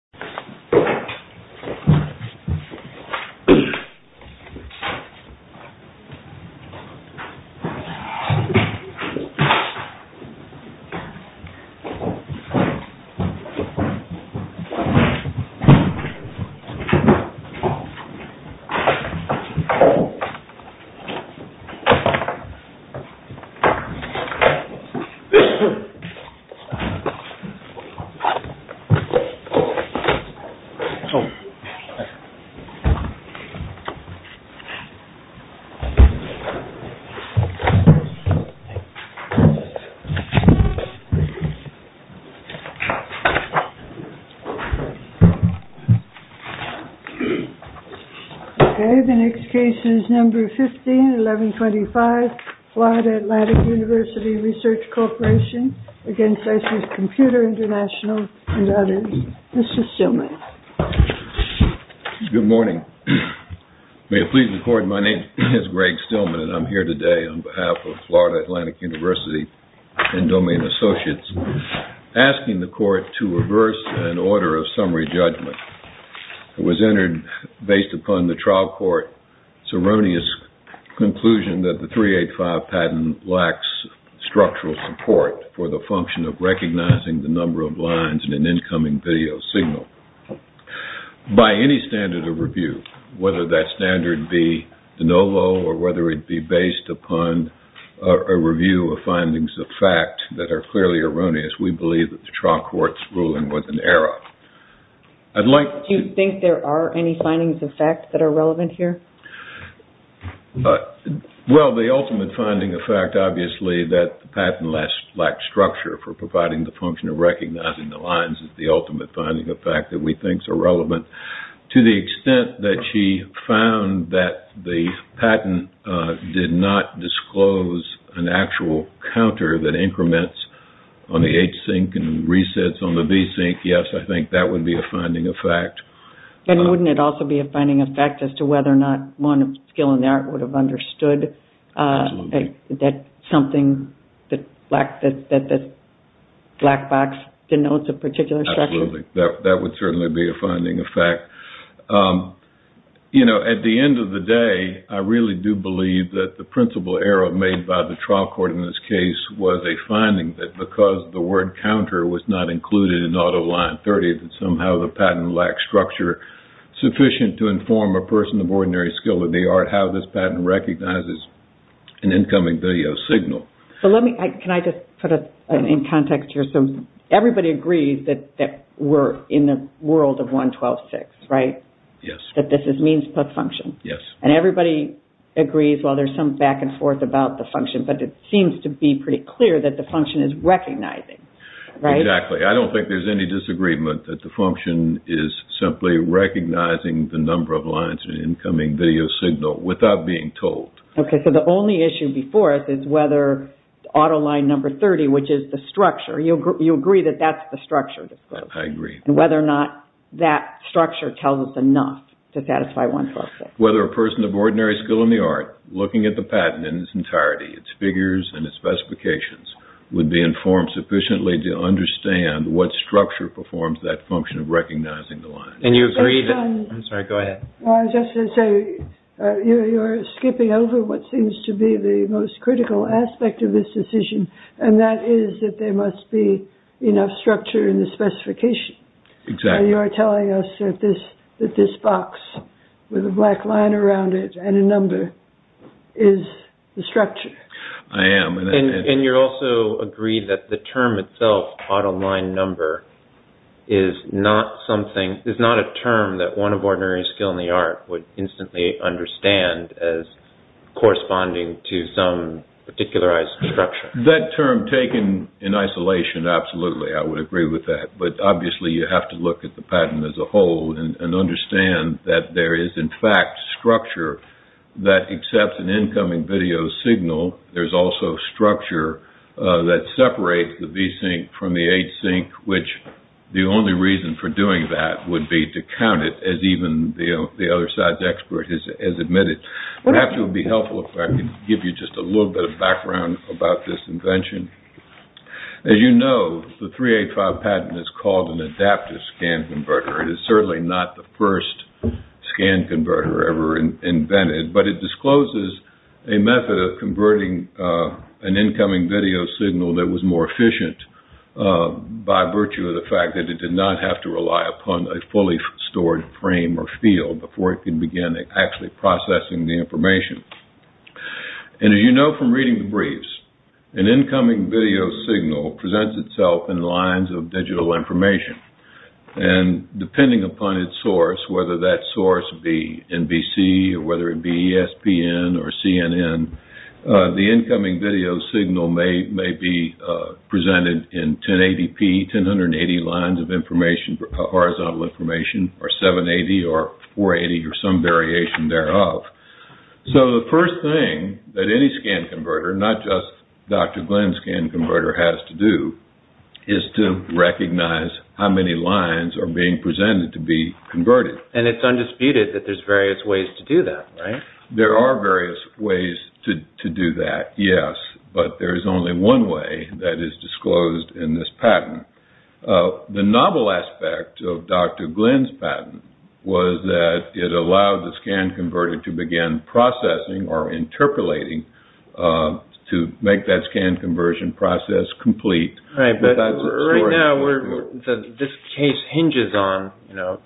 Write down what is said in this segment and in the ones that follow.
This video was made in Cooperation with the U.S. Department of State. The next case is number 15-1125, Florida Atlantic University Research Corporation v. ASUS Computer International and others. Mr. Stillman. Good morning. May it please the court, my name is Greg Stillman and I'm here today on behalf of Florida Atlantic University and domain associates asking the court to reverse an order of summary judgment. It was entered based upon the trial court's erroneous conclusion that the 385 patent lacks structural support for the function of recognizing the number of lines in an incoming video signal. By any standard of review, whether that standard be de novo or whether it be based upon a review of findings of fact that are clearly erroneous, we believe that the trial court's ruling was an error. Do you think there are any findings of fact that are relevant here? Well, the ultimate finding of fact, obviously, that the patent lacks structure for providing the function of recognizing the lines is the ultimate finding of fact that we think is relevant. To the extent that she found that the patent did not disclose an actual counter that increments on the H-sync and resets on the B-sync, yes, I think that would be a finding of fact. And wouldn't it also be a finding of fact as to whether or not one skill in the art would have understood that something that this black box denotes a particular structure? Absolutely. That would certainly be a finding of fact. At the end of the day, I really do believe that the principal error made by the trial court in this case was a finding that because the word counter was not included in auto line 30, that somehow the patent lacks structure sufficient to inform a person of ordinary skill in the art how this patent recognizes an incoming video signal. Can I just put it in context here? Everybody agrees that we're in the world of 112.6, right? Yes. That this is means plus function. Yes. And everybody agrees, well, there's some back and forth about the function, but it seems to be pretty clear that the function is recognizing, right? Exactly. I don't think there's any disagreement that the function is simply recognizing the number of lines in an incoming video signal without being told. Okay, so the only issue before us is whether auto line number 30, which is the structure, you agree that that's the structure? I agree. And whether or not that structure tells us enough to satisfy 112.6? Whether a person of ordinary skill in the art, looking at the patent in its entirety, its figures and its specifications, would be informed sufficiently to understand what structure performs that function of recognizing the lines. And you agree that... I'm sorry, go ahead. I was just going to say, you're skipping over what seems to be the most critical aspect of this decision, and that is that there must be enough structure in the specification. Exactly. You're telling us that this box with a black line around it and a number is the structure. I am. And you also agree that the term itself, auto line number, is not a term that one of ordinary skill in the art would instantly understand as corresponding to some particularized structure. That term taken in isolation, absolutely, I would agree with that. But obviously, you have to look at the patent as a whole and understand that there is, in fact, structure that accepts an incoming video signal. There's also structure that separates the V-sync from the H-sync, which the only reason for doing that would be to count it, as even the other side's expert has admitted. Perhaps it would be helpful if I could give you just a little bit of background about this invention. As you know, the 385 patent is called an adaptive scan converter. It is certainly not the first scan converter ever invented, but it discloses a method of converting an incoming video signal that was more efficient by virtue of the fact that it did not have to rely upon a fully stored frame or field before it can begin actually processing the information. And as you know from reading the briefs, an incoming video signal presents itself in lines of digital information. And depending upon its source, whether that source be NBC or whether it be ESPN or CNN, the incoming video signal may be presented in 1080p, 1080 lines of information, horizontal information, or 780 or 480 or some variation thereof. So the first thing that any scan converter, not just Dr. Glenn's scan converter, has to do is to recognize how many lines are being presented to be converted. And it's undisputed that there's various ways to do that, right? There are various ways to do that, yes. But there is only one way that is disclosed in this patent. The novel aspect of Dr. Glenn's patent was that it allowed the scan converter to begin processing or interpolating to make that scan conversion process complete. Right now, this case hinges on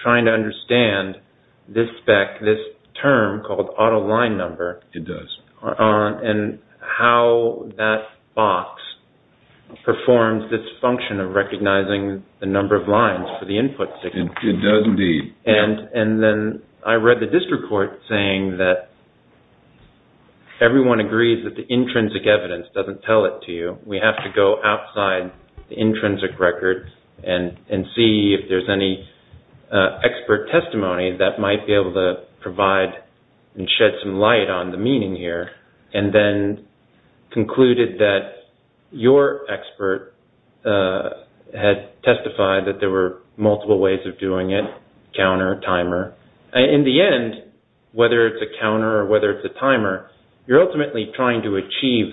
trying to understand this term called auto line number. It does. And how that box performs this function of recognizing the number of lines for the input signal. It does indeed. And then I read the district court saying that everyone agrees that the intrinsic evidence doesn't tell it to you. We have to go outside the intrinsic record and see if there's any expert testimony that might be able to provide and shed some light on the meaning here. And then concluded that your expert had testified that there were multiple ways of doing it. Counter, timer. In the end, whether it's a counter or whether it's a timer, you're ultimately trying to achieve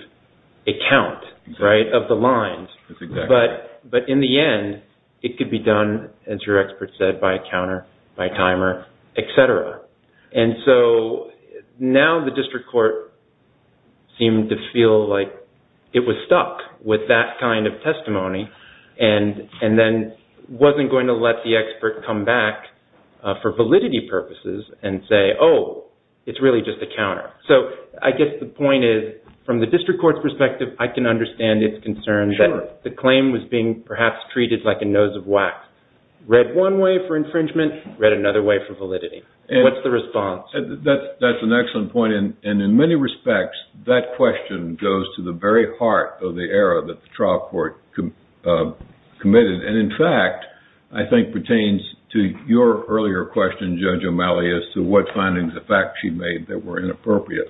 a count, right, of the lines. But in the end, it could be done, as your expert said, by a counter, by a timer, etc. And so now the district court seemed to feel like it was stuck with that kind of testimony. And then wasn't going to let the expert come back for validity purposes and say, oh, it's really just a counter. So I guess the point is, from the district court's perspective, I can understand its concern that the claim was being perhaps treated like a nose of wax. Read one way for infringement, read another way for validity. What's the response? That's an excellent point. And in many respects, that question goes to the very heart of the error that the trial court committed. And, in fact, I think pertains to your earlier question, Judge O'Malley, as to what findings of fact she made that were inappropriate.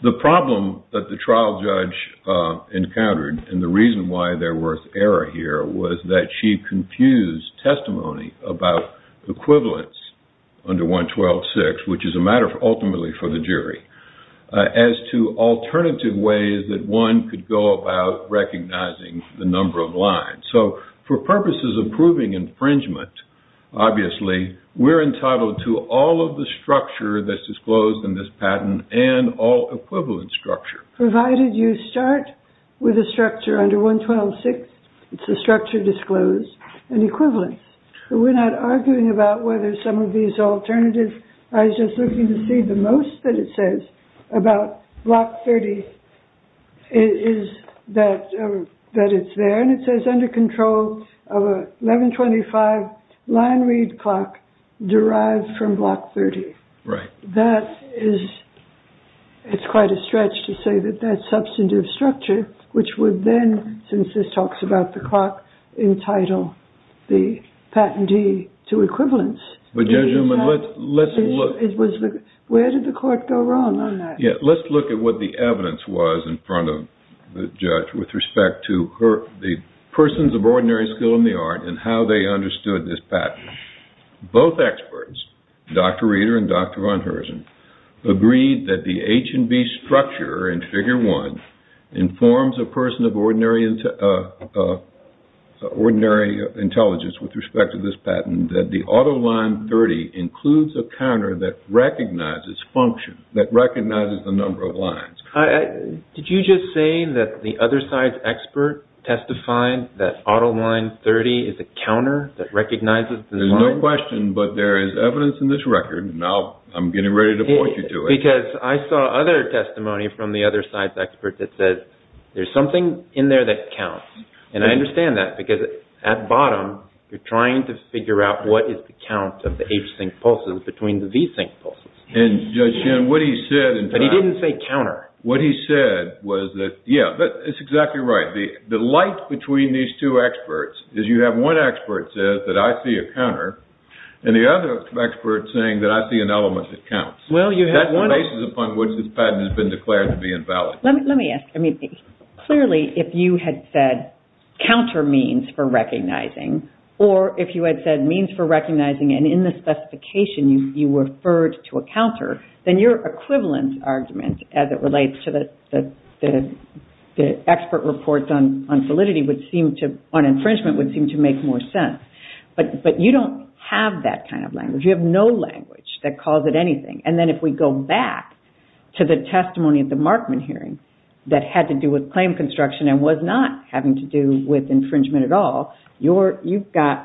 The problem that the trial judge encountered, and the reason why there was error here, was that she confused testimony about equivalence under 112.6, which is a matter ultimately for the jury, as to alternative ways that one could go about recognizing the number of lines. So for purposes of proving infringement, obviously, we're entitled to all of the structure that's disclosed in this patent, and all equivalent structure. Provided you start with a structure under 112.6, it's a structure disclosed in equivalence. We're not arguing about whether some of these alternatives, I was just looking to see the most that it says about Block 30, that it's there. And it says under control of a 1125 line read clock derived from Block 30. Right. That is, it's quite a stretch to say that that substantive structure, which would then, since this talks about the clock, entitle the patentee to equivalence. But Judge O'Malley, let's look. Where did the court go wrong on that? Yeah, let's look at what the evidence was in front of the judge with respect to the persons of ordinary skill in the art and how they understood this patent. Both experts, Dr. Reeder and Dr. Von Herzen, agreed that the H&B structure in Figure 1 informs a person of ordinary intelligence with respect to this patent, that the Auto Line 30 includes a counter that recognizes function, that recognizes the number of lines. Did you just say that the other side's expert testified that Auto Line 30 is a counter that recognizes the number of lines? There's no question, but there is evidence in this record, and I'm getting ready to point you to it. Because I saw other testimony from the other side's expert that says there's something in there that counts. And I understand that, because at bottom, you're trying to figure out what is the count of the H-sync pulses between the V-sync pulses. But he didn't say counter. What he said was that, yeah, it's exactly right. The light between these two experts is you have one expert says that I see a counter, and the other expert saying that I see an element that counts. That's the basis upon which this patent has been declared to be invalid. Let me ask. Clearly, if you had said counter means for recognizing, or if you had said means for recognizing, and in the specification, you referred to a counter, then your equivalent argument, as it relates to the expert reports on validity on infringement, would seem to make more sense. But you don't have that kind of language. You have no language that calls it anything. And then if we go back to the testimony at the Markman hearing that had to do with claim construction and was not having to do with infringement at all, you've got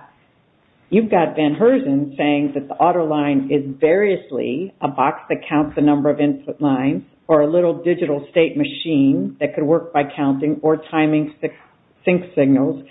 Van Herzen saying that the auto line is variously a box that counts the number of input lines or a little digital state machine that could work by counting or timing sync signals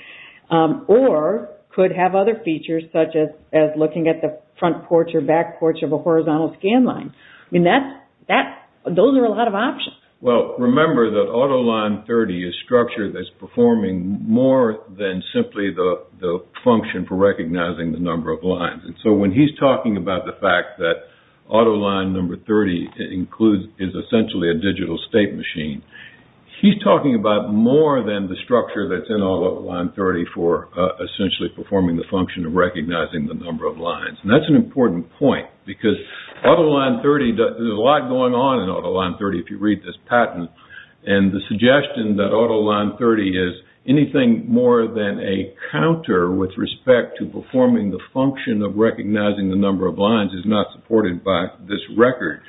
or could have other features such as looking at the front porch or back porch of a horizontal scan line. I mean, those are a lot of options. Well, remember that auto line 30 is structured as performing more than simply the function for recognizing the number of lines. And so when he's talking about the fact that auto line number 30 is essentially a digital state machine, he's talking about more than the structure that's in auto line 30 for essentially performing the function of recognizing the number of lines. And that's an important point because auto line 30, there's a lot going on in auto line 30 if you read this patent, and the suggestion that auto line 30 is anything more than a counter with respect to performing the function of recognizing the number of lines is not supported by this record.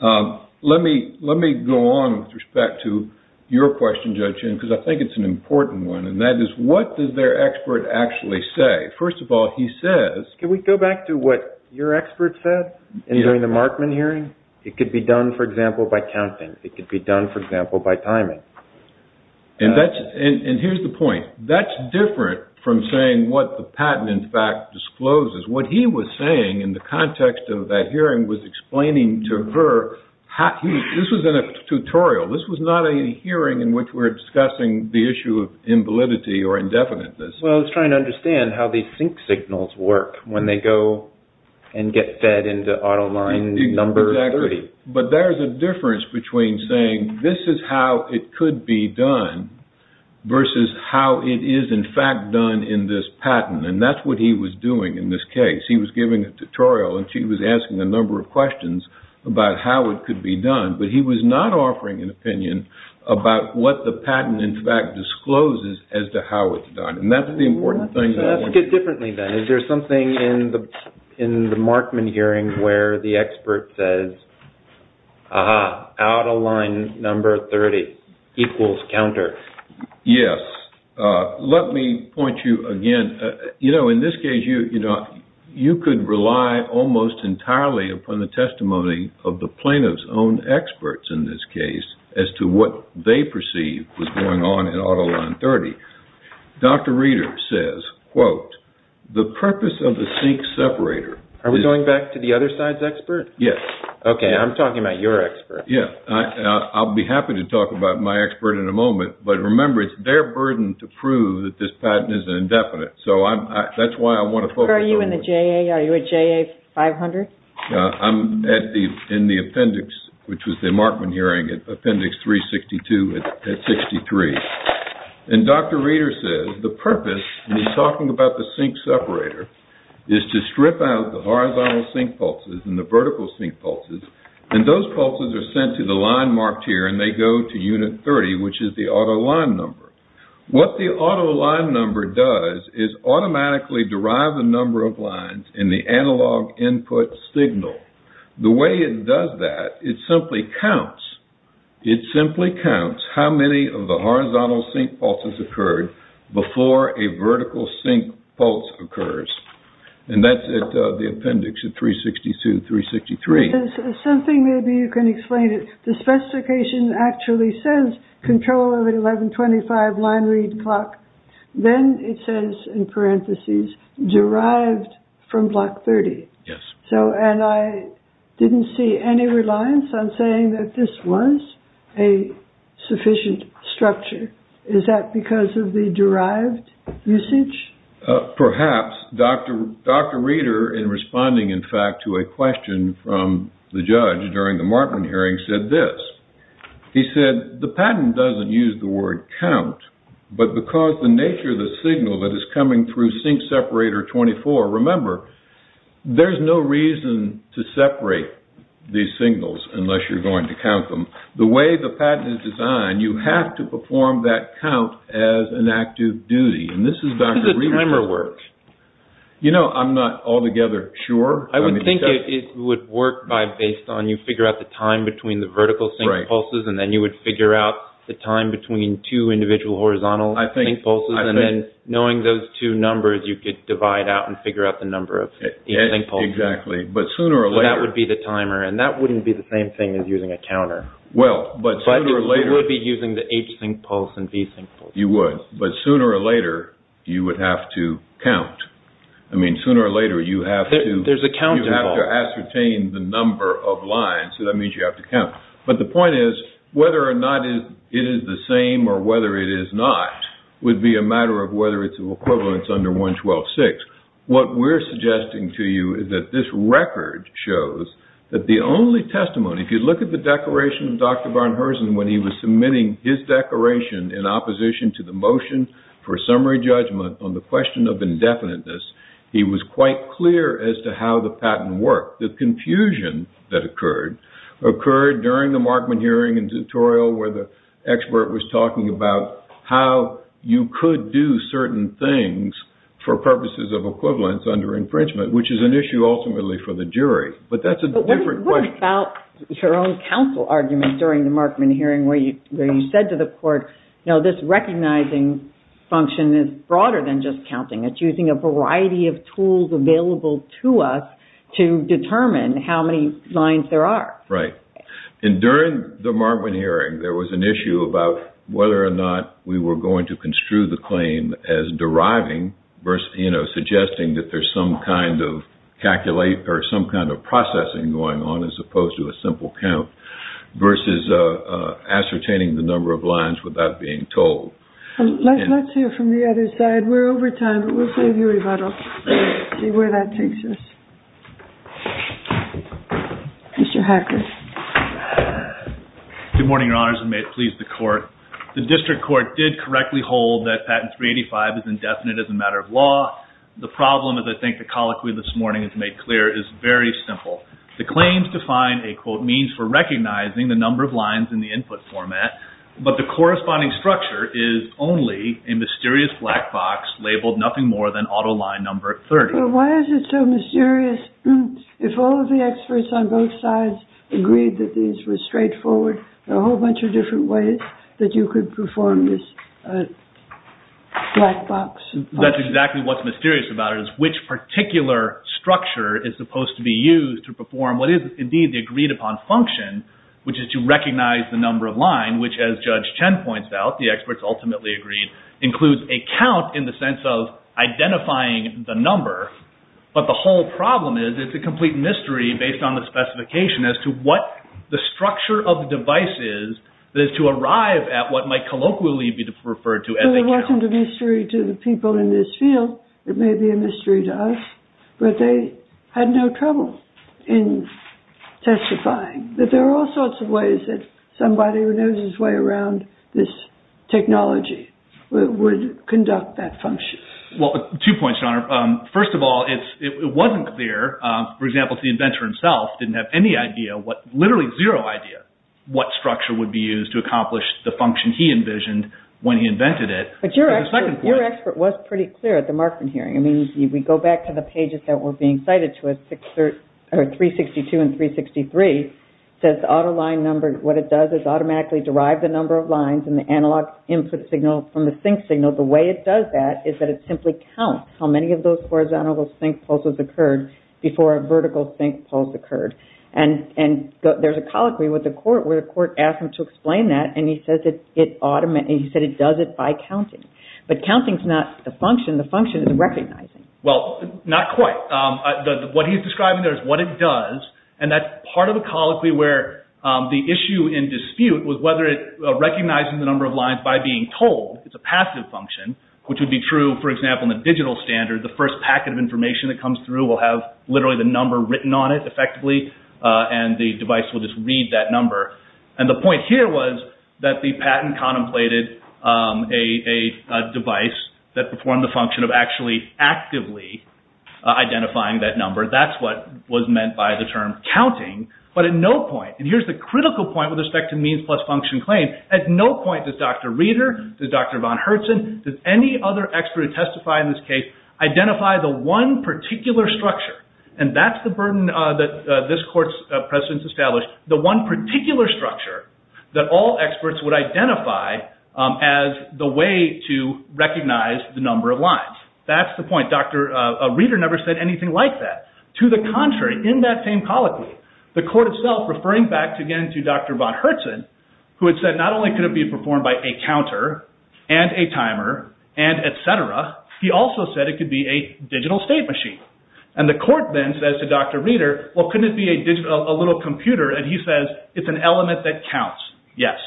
Let me go on with respect to your question, Judge Hinn, because I think it's an important one, and that is what does their expert actually say? First of all, he says... Can we go back to what your expert said during the Markman hearing? It could be done, for example, by counting. It could be done, for example, by timing. And here's the point. That's different from saying what the patent, in fact, discloses. What he was saying in the context of that hearing was explaining to her... This was in a tutorial. This was not a hearing in which we were discussing the issue of invalidity or indefiniteness. Well, I was trying to understand how these sync signals work when they go and get fed into auto line number 30. Exactly. But there's a difference between saying this is how it could be done versus how it is, in fact, done in this patent. And that's what he was doing in this case. He was giving a tutorial, and she was asking a number of questions about how it could be done. But he was not offering an opinion about what the patent, in fact, discloses as to how it's done. And that's the important thing. Let's look at it differently, then. Is there something in the Markman hearing where the expert says, aha, auto line number 30 equals counter? Yes. Let me point you again. You know, in this case, you could rely almost entirely upon the testimony of the plaintiff's own experts in this case as to what they perceived was going on in auto line 30. Dr. Reeder says, quote, the purpose of the sync separator... Are we going back to the other side's expert? Yes. Okay, I'm talking about your expert. I'll be happy to talk about my expert in a moment. But remember, it's their burden to prove that this patent is indefinite. So that's why I want to focus on... Are you in the JA? Are you a JA 500? I'm in the appendix, which was the Markman hearing, appendix 362 at 63. And Dr. Reeder says, the purpose, and he's talking about the sync separator, is to strip out the horizontal sync pulses and the vertical sync pulses. And those pulses are sent to the line marked here, and they go to unit 30, which is the auto line number. What the auto line number does is automatically derive the number of lines in the analog input signal. The way it does that, it simply counts. It simply counts how many of the horizontal sync pulses occurred before a vertical sync pulse occurs. And that's at the appendix of 362, 363. There's something, maybe you can explain it. The specification actually says control of an 1125 line read clock. Then it says in parentheses, derived from block 30. Yes. And I didn't see any reliance on saying that this was a sufficient structure. Is that because of the derived usage? Perhaps. Dr. Reeder, in responding, in fact, to a question from the judge during the Markman hearing, said this. He said, the patent doesn't use the word count, but because the nature of the signal that is coming through sync separator 24, remember, there's no reason to separate these signals unless you're going to count them. The way the patent is designed, you have to perform that count as an active duty. And this is Dr. Reeder. How does the timer work? You know, I'm not altogether sure. I would think it would work based on you figure out the time between the vertical sync pulses, and then you would figure out the time between two individual horizontal sync pulses. And then knowing those two numbers, you could divide out and figure out the number of each sync pulse. Exactly. But sooner or later. So that would be the timer. And that wouldn't be the same thing as using a counter. Well, but sooner or later. You would be using the H sync pulse and B sync pulse. You would. But sooner or later, you would have to count. I mean, sooner or later, you have to. There's a count at all. You have to ascertain the number of lines. So that means you have to count. But the point is, whether or not it is the same or whether it is not, would be a matter of whether it's of equivalence under 112.6. What we're suggesting to you is that this record shows that the only testimony, if you look at the declaration of Dr. Barnherson when he was submitting his declaration in opposition to the motion for summary judgment on the question of indefiniteness, he was quite clear as to how the patent worked. The confusion that occurred occurred during the Markman hearing and tutorial where the expert was talking about how you could do certain things for purposes of equivalence under infringement, which is an issue ultimately for the jury. But that's a different question. It's about your own counsel argument during the Markman hearing where you said to the court, you know, this recognizing function is broader than just counting. It's using a variety of tools available to us to determine how many lines there are. Right. And during the Markman hearing, there was an issue about whether or not we were going to construe the claim as deriving versus, you know, suggesting that there's some kind of calculate or some kind of processing going on, as opposed to a simple count versus ascertaining the number of lines without being told. Let's hear from the other side. We're over time, but we'll see where that takes us. Mr. Hackett. Good morning, Your Honors, and may it please the court. The district court did correctly hold that patent 385 is indefinite as a matter of law. The problem, as I think the colloquy this morning has made clear, is very simple. The claims define a, quote, means for recognizing the number of lines in the input format, but the corresponding structure is only a mysterious black box labeled nothing more than auto line number 30. Well, why is it so mysterious? If all of the experts on both sides agreed that these were straightforward, there are a whole bunch of different ways that you could perform this black box. That's exactly what's mysterious about it is which particular structure is supposed to be used to perform what is, indeed, the agreed upon function, which is to recognize the number of line, which as Judge Chen points out, the experts ultimately agreed, includes a count in the sense of identifying the number, but the whole problem is it's a complete mystery based on the specification as to what the structure of the device is that is to arrive at what might colloquially be referred to as a count. It wasn't a mystery to the people in this field. It may be a mystery to us, but they had no trouble in testifying that there are all sorts of ways that somebody who knows his way around this technology would conduct that function. Well, two points, Your Honor. First of all, it wasn't clear. For example, the inventor himself didn't have any idea, literally zero idea, what structure would be used to accomplish the function he envisioned when he invented it. But your expert was pretty clear at the Markman hearing. I mean, if we go back to the pages that were being cited to us, 362 and 363, it says the auto line number, what it does is automatically derive the number of lines and the analog input signal from the sync signal. The way it does that is that it simply counts how many of those horizontal sync pulses occurred before a vertical sync pulse occurred. And there's a colloquy where the court asked him to explain that, and he said it does it by counting. But counting is not the function. The function is recognizing. Well, not quite. What he's describing there is what it does, and that's part of a colloquy where the issue in dispute was whether it recognizes the number of lines by being told. It's a passive function, which would be true, for example, in the digital standard. The first packet of information that comes through will have literally the number written on it effectively, and the device will just read that number. And the point here was that the patent contemplated a device that performed the function of actually actively identifying that number. That's what was meant by the term counting. But at no point, and here's the critical point with respect to means plus function claims, at no point does Dr. Reeder, does Dr. von Herzen, does any other expert who testified in this case, identify the one particular structure, and that's the burden that this court's precedents established, the one particular structure that all experts would identify as the way to recognize the number of lines. That's the point. Dr. Reeder never said anything like that. To the contrary, in that same colloquy, the court itself, referring back again to Dr. von Herzen, who had said not only could it be performed by a counter and a timer and et cetera, he also said it could be a digital state machine. And the court then says to Dr. Reeder, well, couldn't it be a little computer? And he says, it's an element that counts. Yes.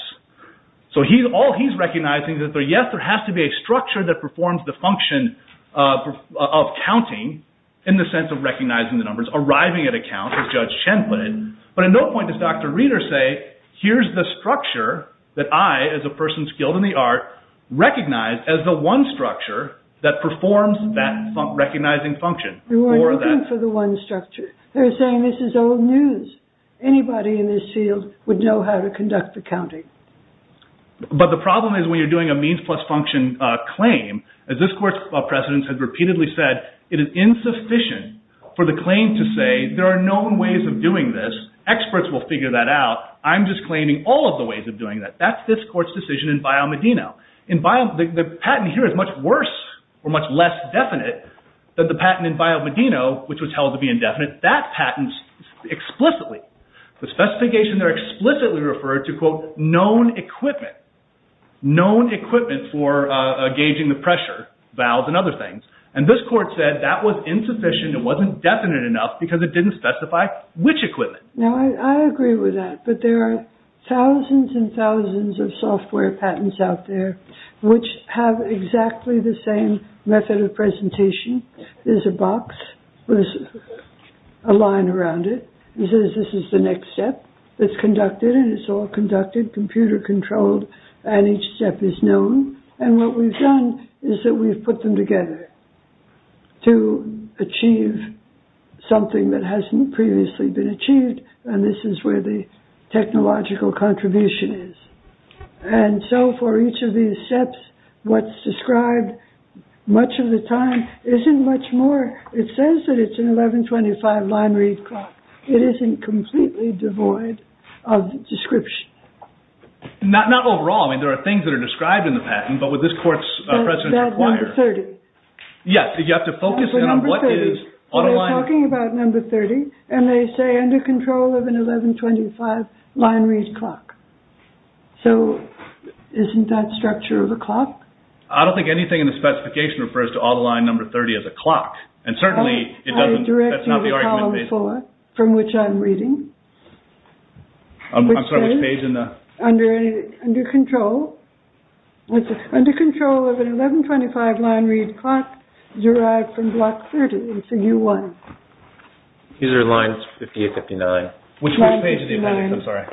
So all he's recognizing is that, yes, there has to be a structure that performs the function of counting, in the sense of recognizing the numbers, arriving at a count, as Judge Chen put it. But at no point does Dr. Reeder say, here's the structure that I, as a person skilled in the art, recognize as the one structure that performs that recognizing function. You are looking for the one structure. They're saying this is old news. Anybody in this field would know how to conduct the counting. But the problem is when you're doing a means plus function claim, as this court's precedents have repeatedly said, it is insufficient for the claim to say there are known ways of doing this. Experts will figure that out. I'm just claiming all of the ways of doing that. That's this court's decision in Bio Medino. The patent here is much worse or much less definite than the patent in Bio Medino, which was held to be indefinite. That patent explicitly, the specifications are explicitly referred to, quote, known equipment, known equipment for gauging the pressure valves and other things. And this court said that was insufficient, it wasn't definite enough, because it didn't specify which equipment. Now, I agree with that. But there are thousands and thousands of software patents out there which have exactly the same method of presentation. There's a box with a line around it. It says this is the next step that's conducted, and it's all conducted, computer controlled, and each step is known. And what we've done is that we've put them together to achieve something that hasn't previously been achieved, and this is where the technological contribution is. And so for each of these steps, what's described much of the time isn't much more. It says that it's an 1125 line read clock. It isn't completely devoid of description. Not overall. I mean, there are things that are described in the patent, but what this court's precedents require. That number 30. Yes, you have to focus in on what it is. So you're talking about number 30, and they say under control of an 1125 line read clock. So isn't that structure of a clock? I don't think anything in the specification refers to auto line number 30 as a clock, and certainly it doesn't. Okay, I direct you to column four, from which I'm reading. I'm sorry, which page in the? Under control. Under control of an 1125 line read clock derived from block 30. It's a U1. These are lines 58, 59. Which page of the appendix? I'm sorry.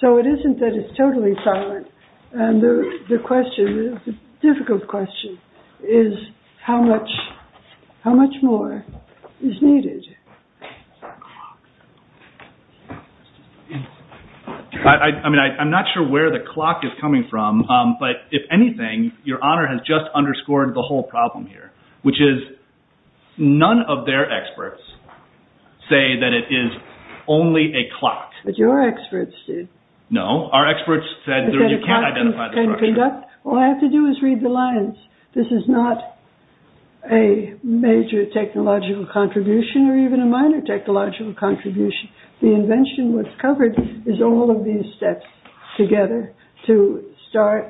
So it isn't that it's totally silent. And the question, the difficult question, is how much more is needed? I mean, I'm not sure where the clock is coming from, but if anything, your honor has just underscored the whole problem here, which is none of their experts say that it is only a clock. But your experts did. No, our experts said you can't identify the structure. All I have to do is read the lines. This is not a major technological contribution or even a minor technological contribution. The invention, what's covered, is all of these steps together to start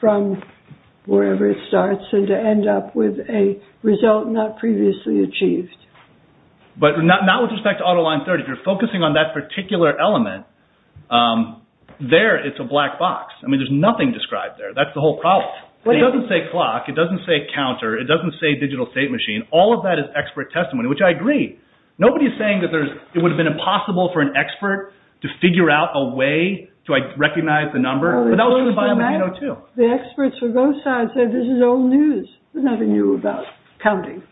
from wherever it starts and to end up with a result not previously achieved. But not with respect to auto line 30. If you're focusing on that particular element, there it's a black box. I mean, there's nothing described there. That's the whole problem. It doesn't say clock. It doesn't say counter. It doesn't say digital state machine. All of that is expert testimony, which I agree. Nobody is saying that it would have been impossible for an expert to figure out a way to recognize the number. But that was true in Biomedino too. The experts for both sides said this is old news. There's nothing new about counting.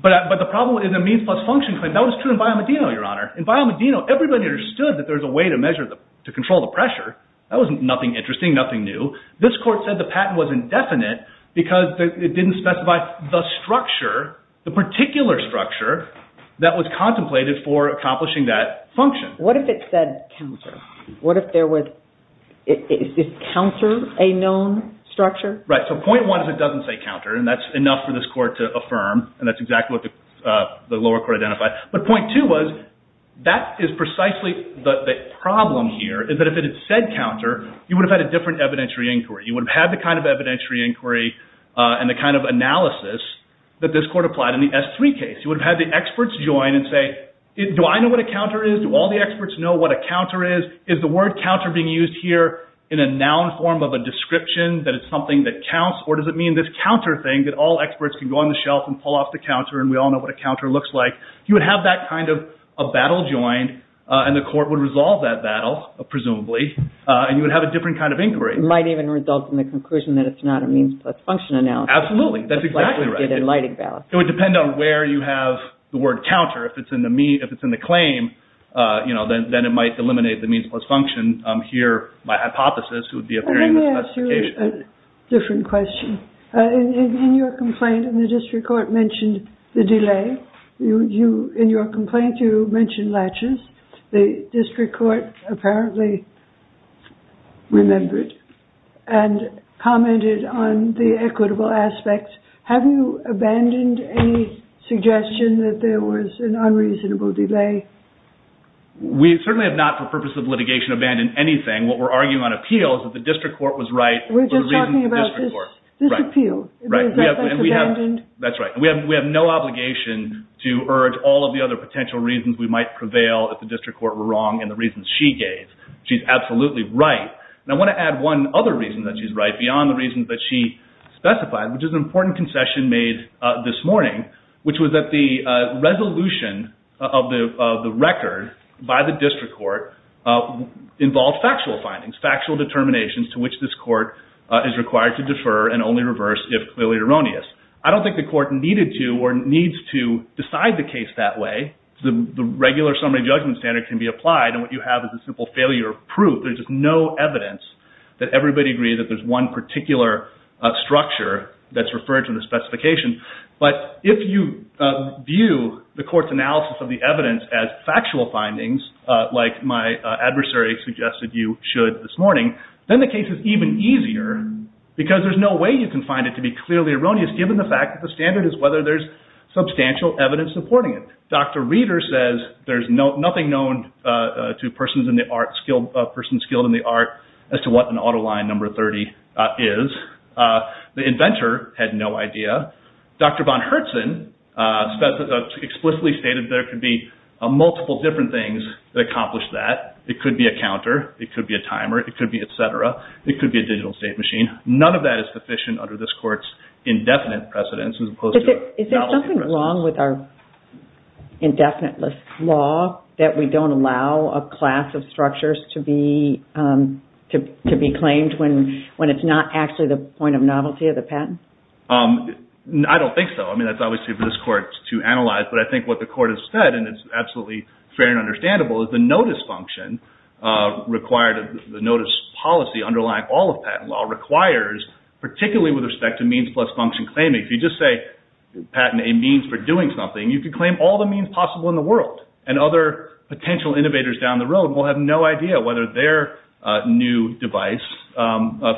But the problem with the means plus function claim, that was true in Biomedino, your honor. In Biomedino, everybody understood that there's a way to measure, to control the pressure. That was nothing interesting, nothing new. This court said the patent was indefinite because it didn't specify the structure, the particular structure that was contemplated for accomplishing that function. What if it said counter? What if there was – is counter a known structure? Right. So point one is it doesn't say counter, and that's enough for this court to affirm, and that's exactly what the lower court identified. But point two was that is precisely the problem here, is that if it had said counter, you would have had a different evidentiary inquiry. You would have had the kind of evidentiary inquiry and the kind of analysis that this court applied in the S3 case. You would have had the experts join and say, do I know what a counter is? Do all the experts know what a counter is? Is the word counter being used here in a noun form of a description that it's something that counts, or does it mean this counter thing that all experts can go on the shelf and pull off the counter and we all know what a counter looks like? You would have that kind of a battle joined, and the court would resolve that battle, presumably, and you would have a different kind of inquiry. It might even result in the conclusion that it's not a means plus function analysis. Absolutely. That's exactly right. It would depend on where you have the word counter. If it's in the claim, then it might eliminate the means plus function. Here, by hypothesis, it would be appearing in the specification. Let me ask you a different question. In your complaint, and the district court mentioned the delay. In your complaint, you mentioned latches. The district court apparently remembered and commented on the equitable aspects. Have you abandoned any suggestion that there was an unreasonable delay? We certainly have not, for purposes of litigation, abandoned anything. What we're arguing on appeal is that the district court was right for the reasons of the district court. We're just talking about this appeal. That's right. We have no obligation to urge all of the other potential reasons we might prevail that the district court were wrong and the reasons she gave. She's absolutely right. I want to add one other reason that she's right, beyond the reasons that she specified, which is an important concession made this morning, which was that the resolution of the record by the district court involved factual findings, factual determinations to which this court is required to defer and only reverse if clearly erroneous. I don't think the court needed to or needs to decide the case that way. The regular summary judgment standard can be applied, and what you have is a simple failure of proof. There's just no evidence that everybody agrees that there's one particular structure that's referred to in the specification. But if you view the court's analysis of the evidence as factual findings, like my adversary suggested you should this morning, then the case is even easier because there's no way you can find it to be clearly erroneous, given the fact that the standard is whether there's substantial evidence supporting it. Dr. Reeder says there's nothing known to persons skilled in the art as to what an auto line number 30 is. The inventor had no idea. Dr. Von Herzen explicitly stated there could be multiple different things that accomplish that. It could be a counter. It could be a timer. It could be et cetera. It could be a digital state machine. None of that is sufficient under this court's indefinite precedence as opposed to a valid precedent. Isn't it wrong with our indefinite law that we don't allow a class of structures to be claimed when it's not actually the point of novelty of the patent? I don't think so. I mean, that's obviously for this court to analyze. But I think what the court has said, and it's absolutely fair and understandable, is the notice policy underlying all of patent law requires, particularly with respect to means plus function claimings, if you just say patent a means for doing something, you could claim all the means possible in the world. And other potential innovators down the road will have no idea whether their new device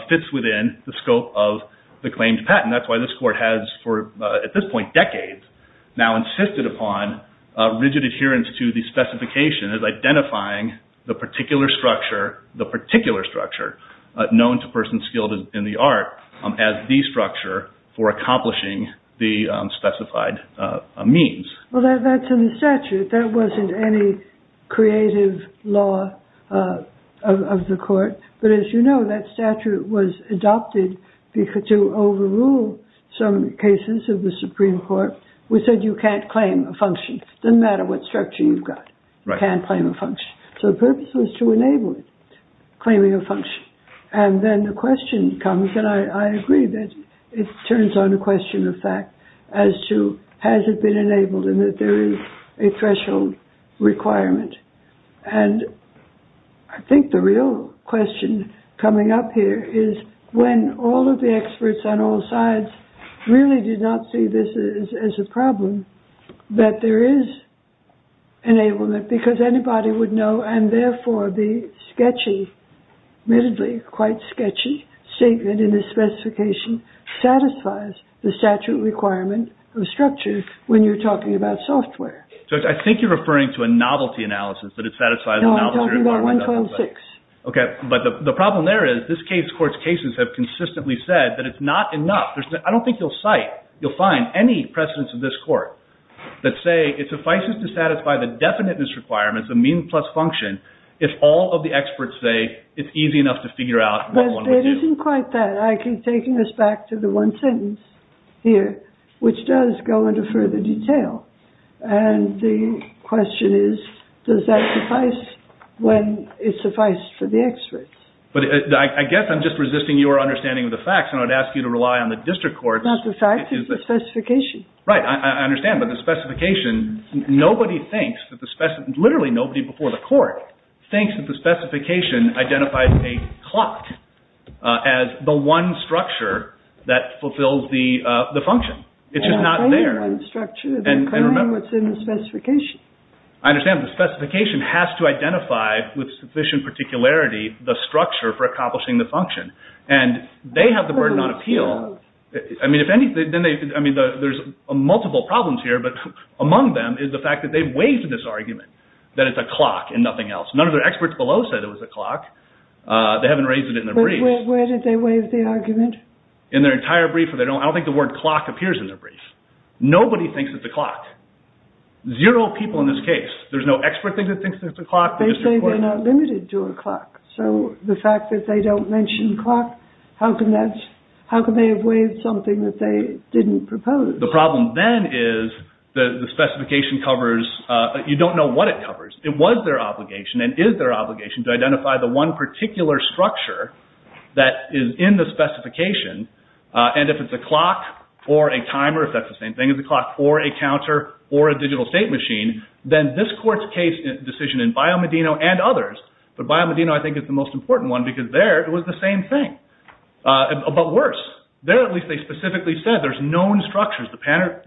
fits within the scope of the claimed patent. That's why this court has for, at this point, decades now insisted upon rigid adherence to the specification as identifying the particular structure, the particular structure, known to persons skilled in the art as the structure for accomplishing the specified means. Well, that's in the statute. That wasn't any creative law of the court. But as you know, that statute was adopted to overrule some cases of the Supreme Court, which said you can't claim a function, doesn't matter what structure you've got. You can't claim a function. So the purpose was to enable it, claiming a function. And then the question comes, and I agree that it turns on a question of fact, as to has it been enabled and that there is a threshold requirement. And I think the real question coming up here is when all of the experts on all sides really did not see this as a problem, that there is enablement. Because anybody would know, and therefore the sketchy, admittedly quite sketchy, statement in this specification satisfies the statute requirement of structure when you're talking about software. So I think you're referring to a novelty analysis that it satisfies a novelty requirement. No, I'm talking about 1.6. OK. But the problem there is this case court's cases have consistently said that it's not enough. I don't think you'll cite, you'll find any precedents of this court that say it suffices to satisfy the definiteness requirements, the mean plus function, if all of the experts say it's easy enough to figure out what one would do. But it isn't quite that. I keep taking this back to the one sentence here, which does go into further detail. And the question is, does that suffice when it suffices for the experts? I guess I'm just resisting your understanding of the facts, and I would ask you to rely on the district courts. It's not the facts, it's the specification. Right, I understand. But the specification, nobody thinks that the spec, literally nobody before the court, thinks that the specification identifies a clot as the one structure that fulfills the function. It's just not there. It's not a one structure. They're calling what's in the specification. I understand. The specification has to identify with sufficient particularity the structure for accomplishing the function. And they have the burden on appeal. I mean, there's multiple problems here, but among them is the fact that they've waived this argument that it's a clot and nothing else. None of the experts below said it was a clot. They haven't raised it in their brief. But where did they waive the argument? In their entire brief. I don't think the word clot appears in their brief. Nobody thinks it's a clot. Zero people in this case. There's no expert that thinks it's a clot. They say they're not limited to a clot. So the fact that they don't mention clot, how can they have waived something that they didn't propose? The problem then is the specification covers, you don't know what it covers. It was their obligation and is their obligation to identify the one particular structure that is in the specification. And if it's a clot or a timer, if that's the same thing as a clot, or a counter or a digital state machine, then this court's case decision in Biomedino and others, but Biomedino I think is the most important one because there it was the same thing. But worse, there at least they specifically said there's known structures. The patent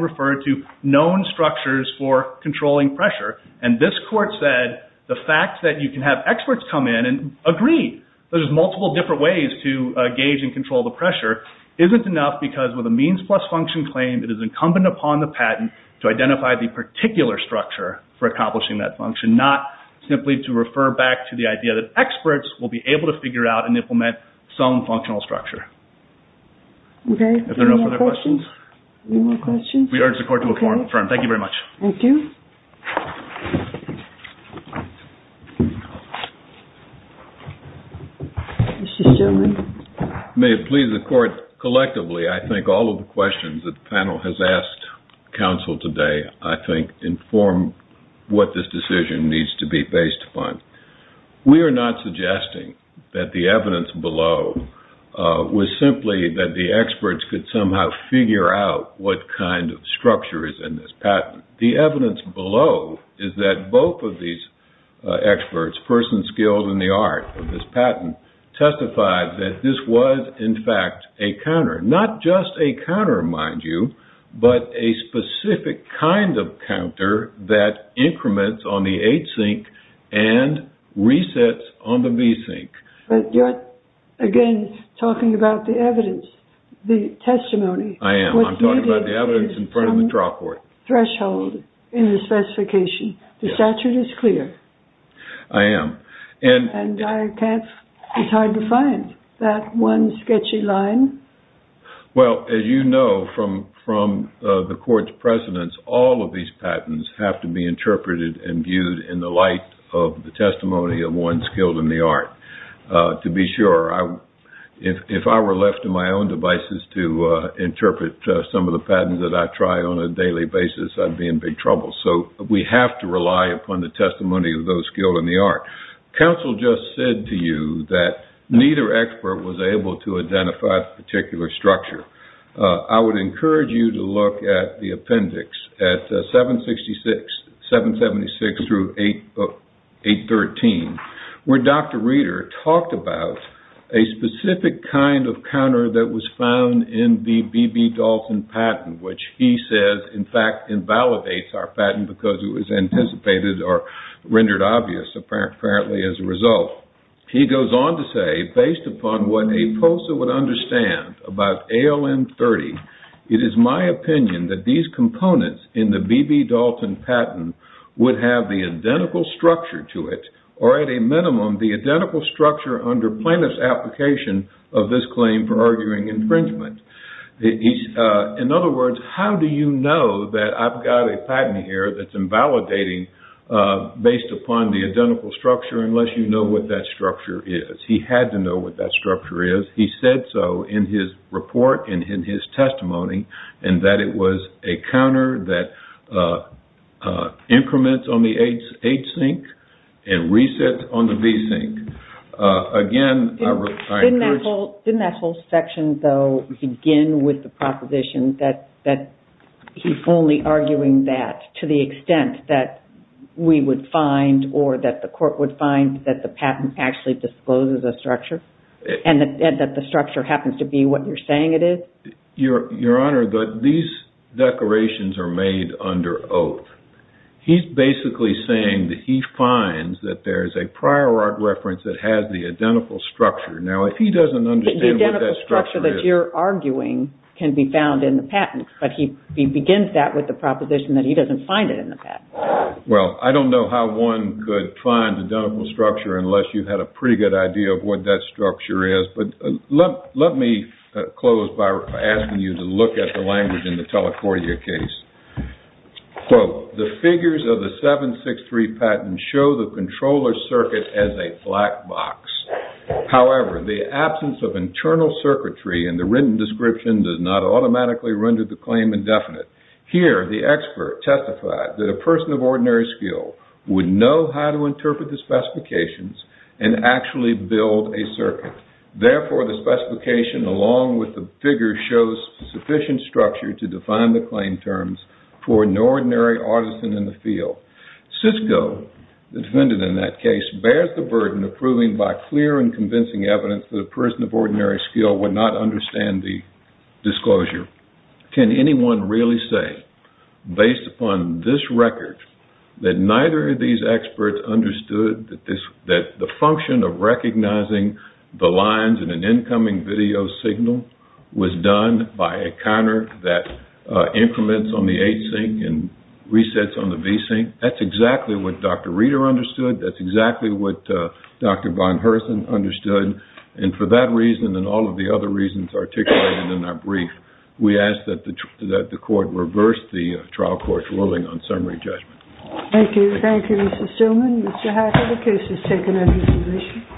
referred to known structures for controlling pressure. And this court said the fact that you can have experts come in and agree there's multiple different ways to gauge and control the pressure isn't enough because with a means plus function claim, it is incumbent upon the patent to identify the particular structure for accomplishing that function, not simply to refer back to the idea that experts will be able to figure out and implement some functional structure. Okay, any more questions? Any more questions? We urge the court to affirm. Thank you very much. Thank you. May it please the court, collectively, I think all of the questions that the panel has asked counsel today, I think inform what this decision needs to be based upon. We are not suggesting that the evidence below was simply that the experts could somehow figure out what kind of structure is in this patent. The evidence below is that both of these experts, persons skilled in the art of this patent, testified that this was, in fact, a counter. Not just a counter, mind you, but a specific kind of counter that increments on the H-sync and resets on the V-sync. But you're, again, talking about the evidence, the testimony. I am. I'm talking about the evidence in front of the trial court. Threshold in the specification. The statute is clear. I am. And I can't, it's hard to find that one sketchy line. Well, as you know from the court's precedence, all of these patents have to be interpreted and viewed in the light of the testimony of one skilled in the art. To be sure, if I were left to my own devices to interpret some of the patents that I try on a daily basis, I'd be in big trouble. So we have to rely upon the testimony of those skilled in the art. Counsel just said to you that neither expert was able to identify the particular structure. I would encourage you to look at the appendix at 766, 776 through 813, where Dr. Reeder talked about a specific kind of counter that was found in the B.B. Dalton patent, which he says, in fact, invalidates our patent because it was anticipated or rendered obvious, apparently, as a result. He goes on to say, based upon what a POSA would understand about ALM30, it is my opinion that these components in the B.B. Dalton patent would have the identical structure to it or, at a minimum, the identical structure under plaintiff's application of this claim for arguing infringement. In other words, how do you know that I've got a patent here that's invalidating based upon the identical structure unless you know what that structure is? He had to know what that structure is. He said so in his report and in his testimony and that it was a counter that increments on the H-sync and resets on the B-sync. Again, I encourage... Didn't that whole section, though, begin with the proposition that he's only arguing that to the extent that we would find or that the court would find that the patent actually discloses a structure and that the structure happens to be what you're saying it is? Your Honor, these decorations are made under oath. He's basically saying that he finds that there's a prior art reference that has the identical structure. Now, if he doesn't understand what that structure is... The identical structure that you're arguing can be found in the patent, but he begins that with the proposition that he doesn't find it in the patent. Well, I don't know how one could find the identical structure unless you had a pretty good idea of what that structure is, but let me close by asking you to look at the language in the Telecordia case. Quote, The figures of the 763 patent show the controller circuit as a black box. However, the absence of internal circuitry in the written description does not automatically render the claim indefinite. Here, the expert testified that a person of ordinary skill would know how to interpret the specifications and actually build a circuit. Therefore, the specification, along with the figure, shows sufficient structure to define the claim terms for an ordinary artisan in the field. Cisco, the defendant in that case, bears the burden of proving by clear and convincing evidence that a person of ordinary skill would not understand the disclosure. Can anyone really say, based upon this record, that neither of these experts understood that the function of recognizing the lines in an incoming video signal was done by a counter that increments on the H-sync and resets on the V-sync? That's exactly what Dr. Reeder understood. That's exactly what Dr. Von Hersen understood. And for that reason and all of the other reasons articulated in our brief, we ask that the court reverse the trial court's ruling on summary judgment. Thank you. Thank you, Mr. Shulman. Mr. Hacker, the case is taken under resolution.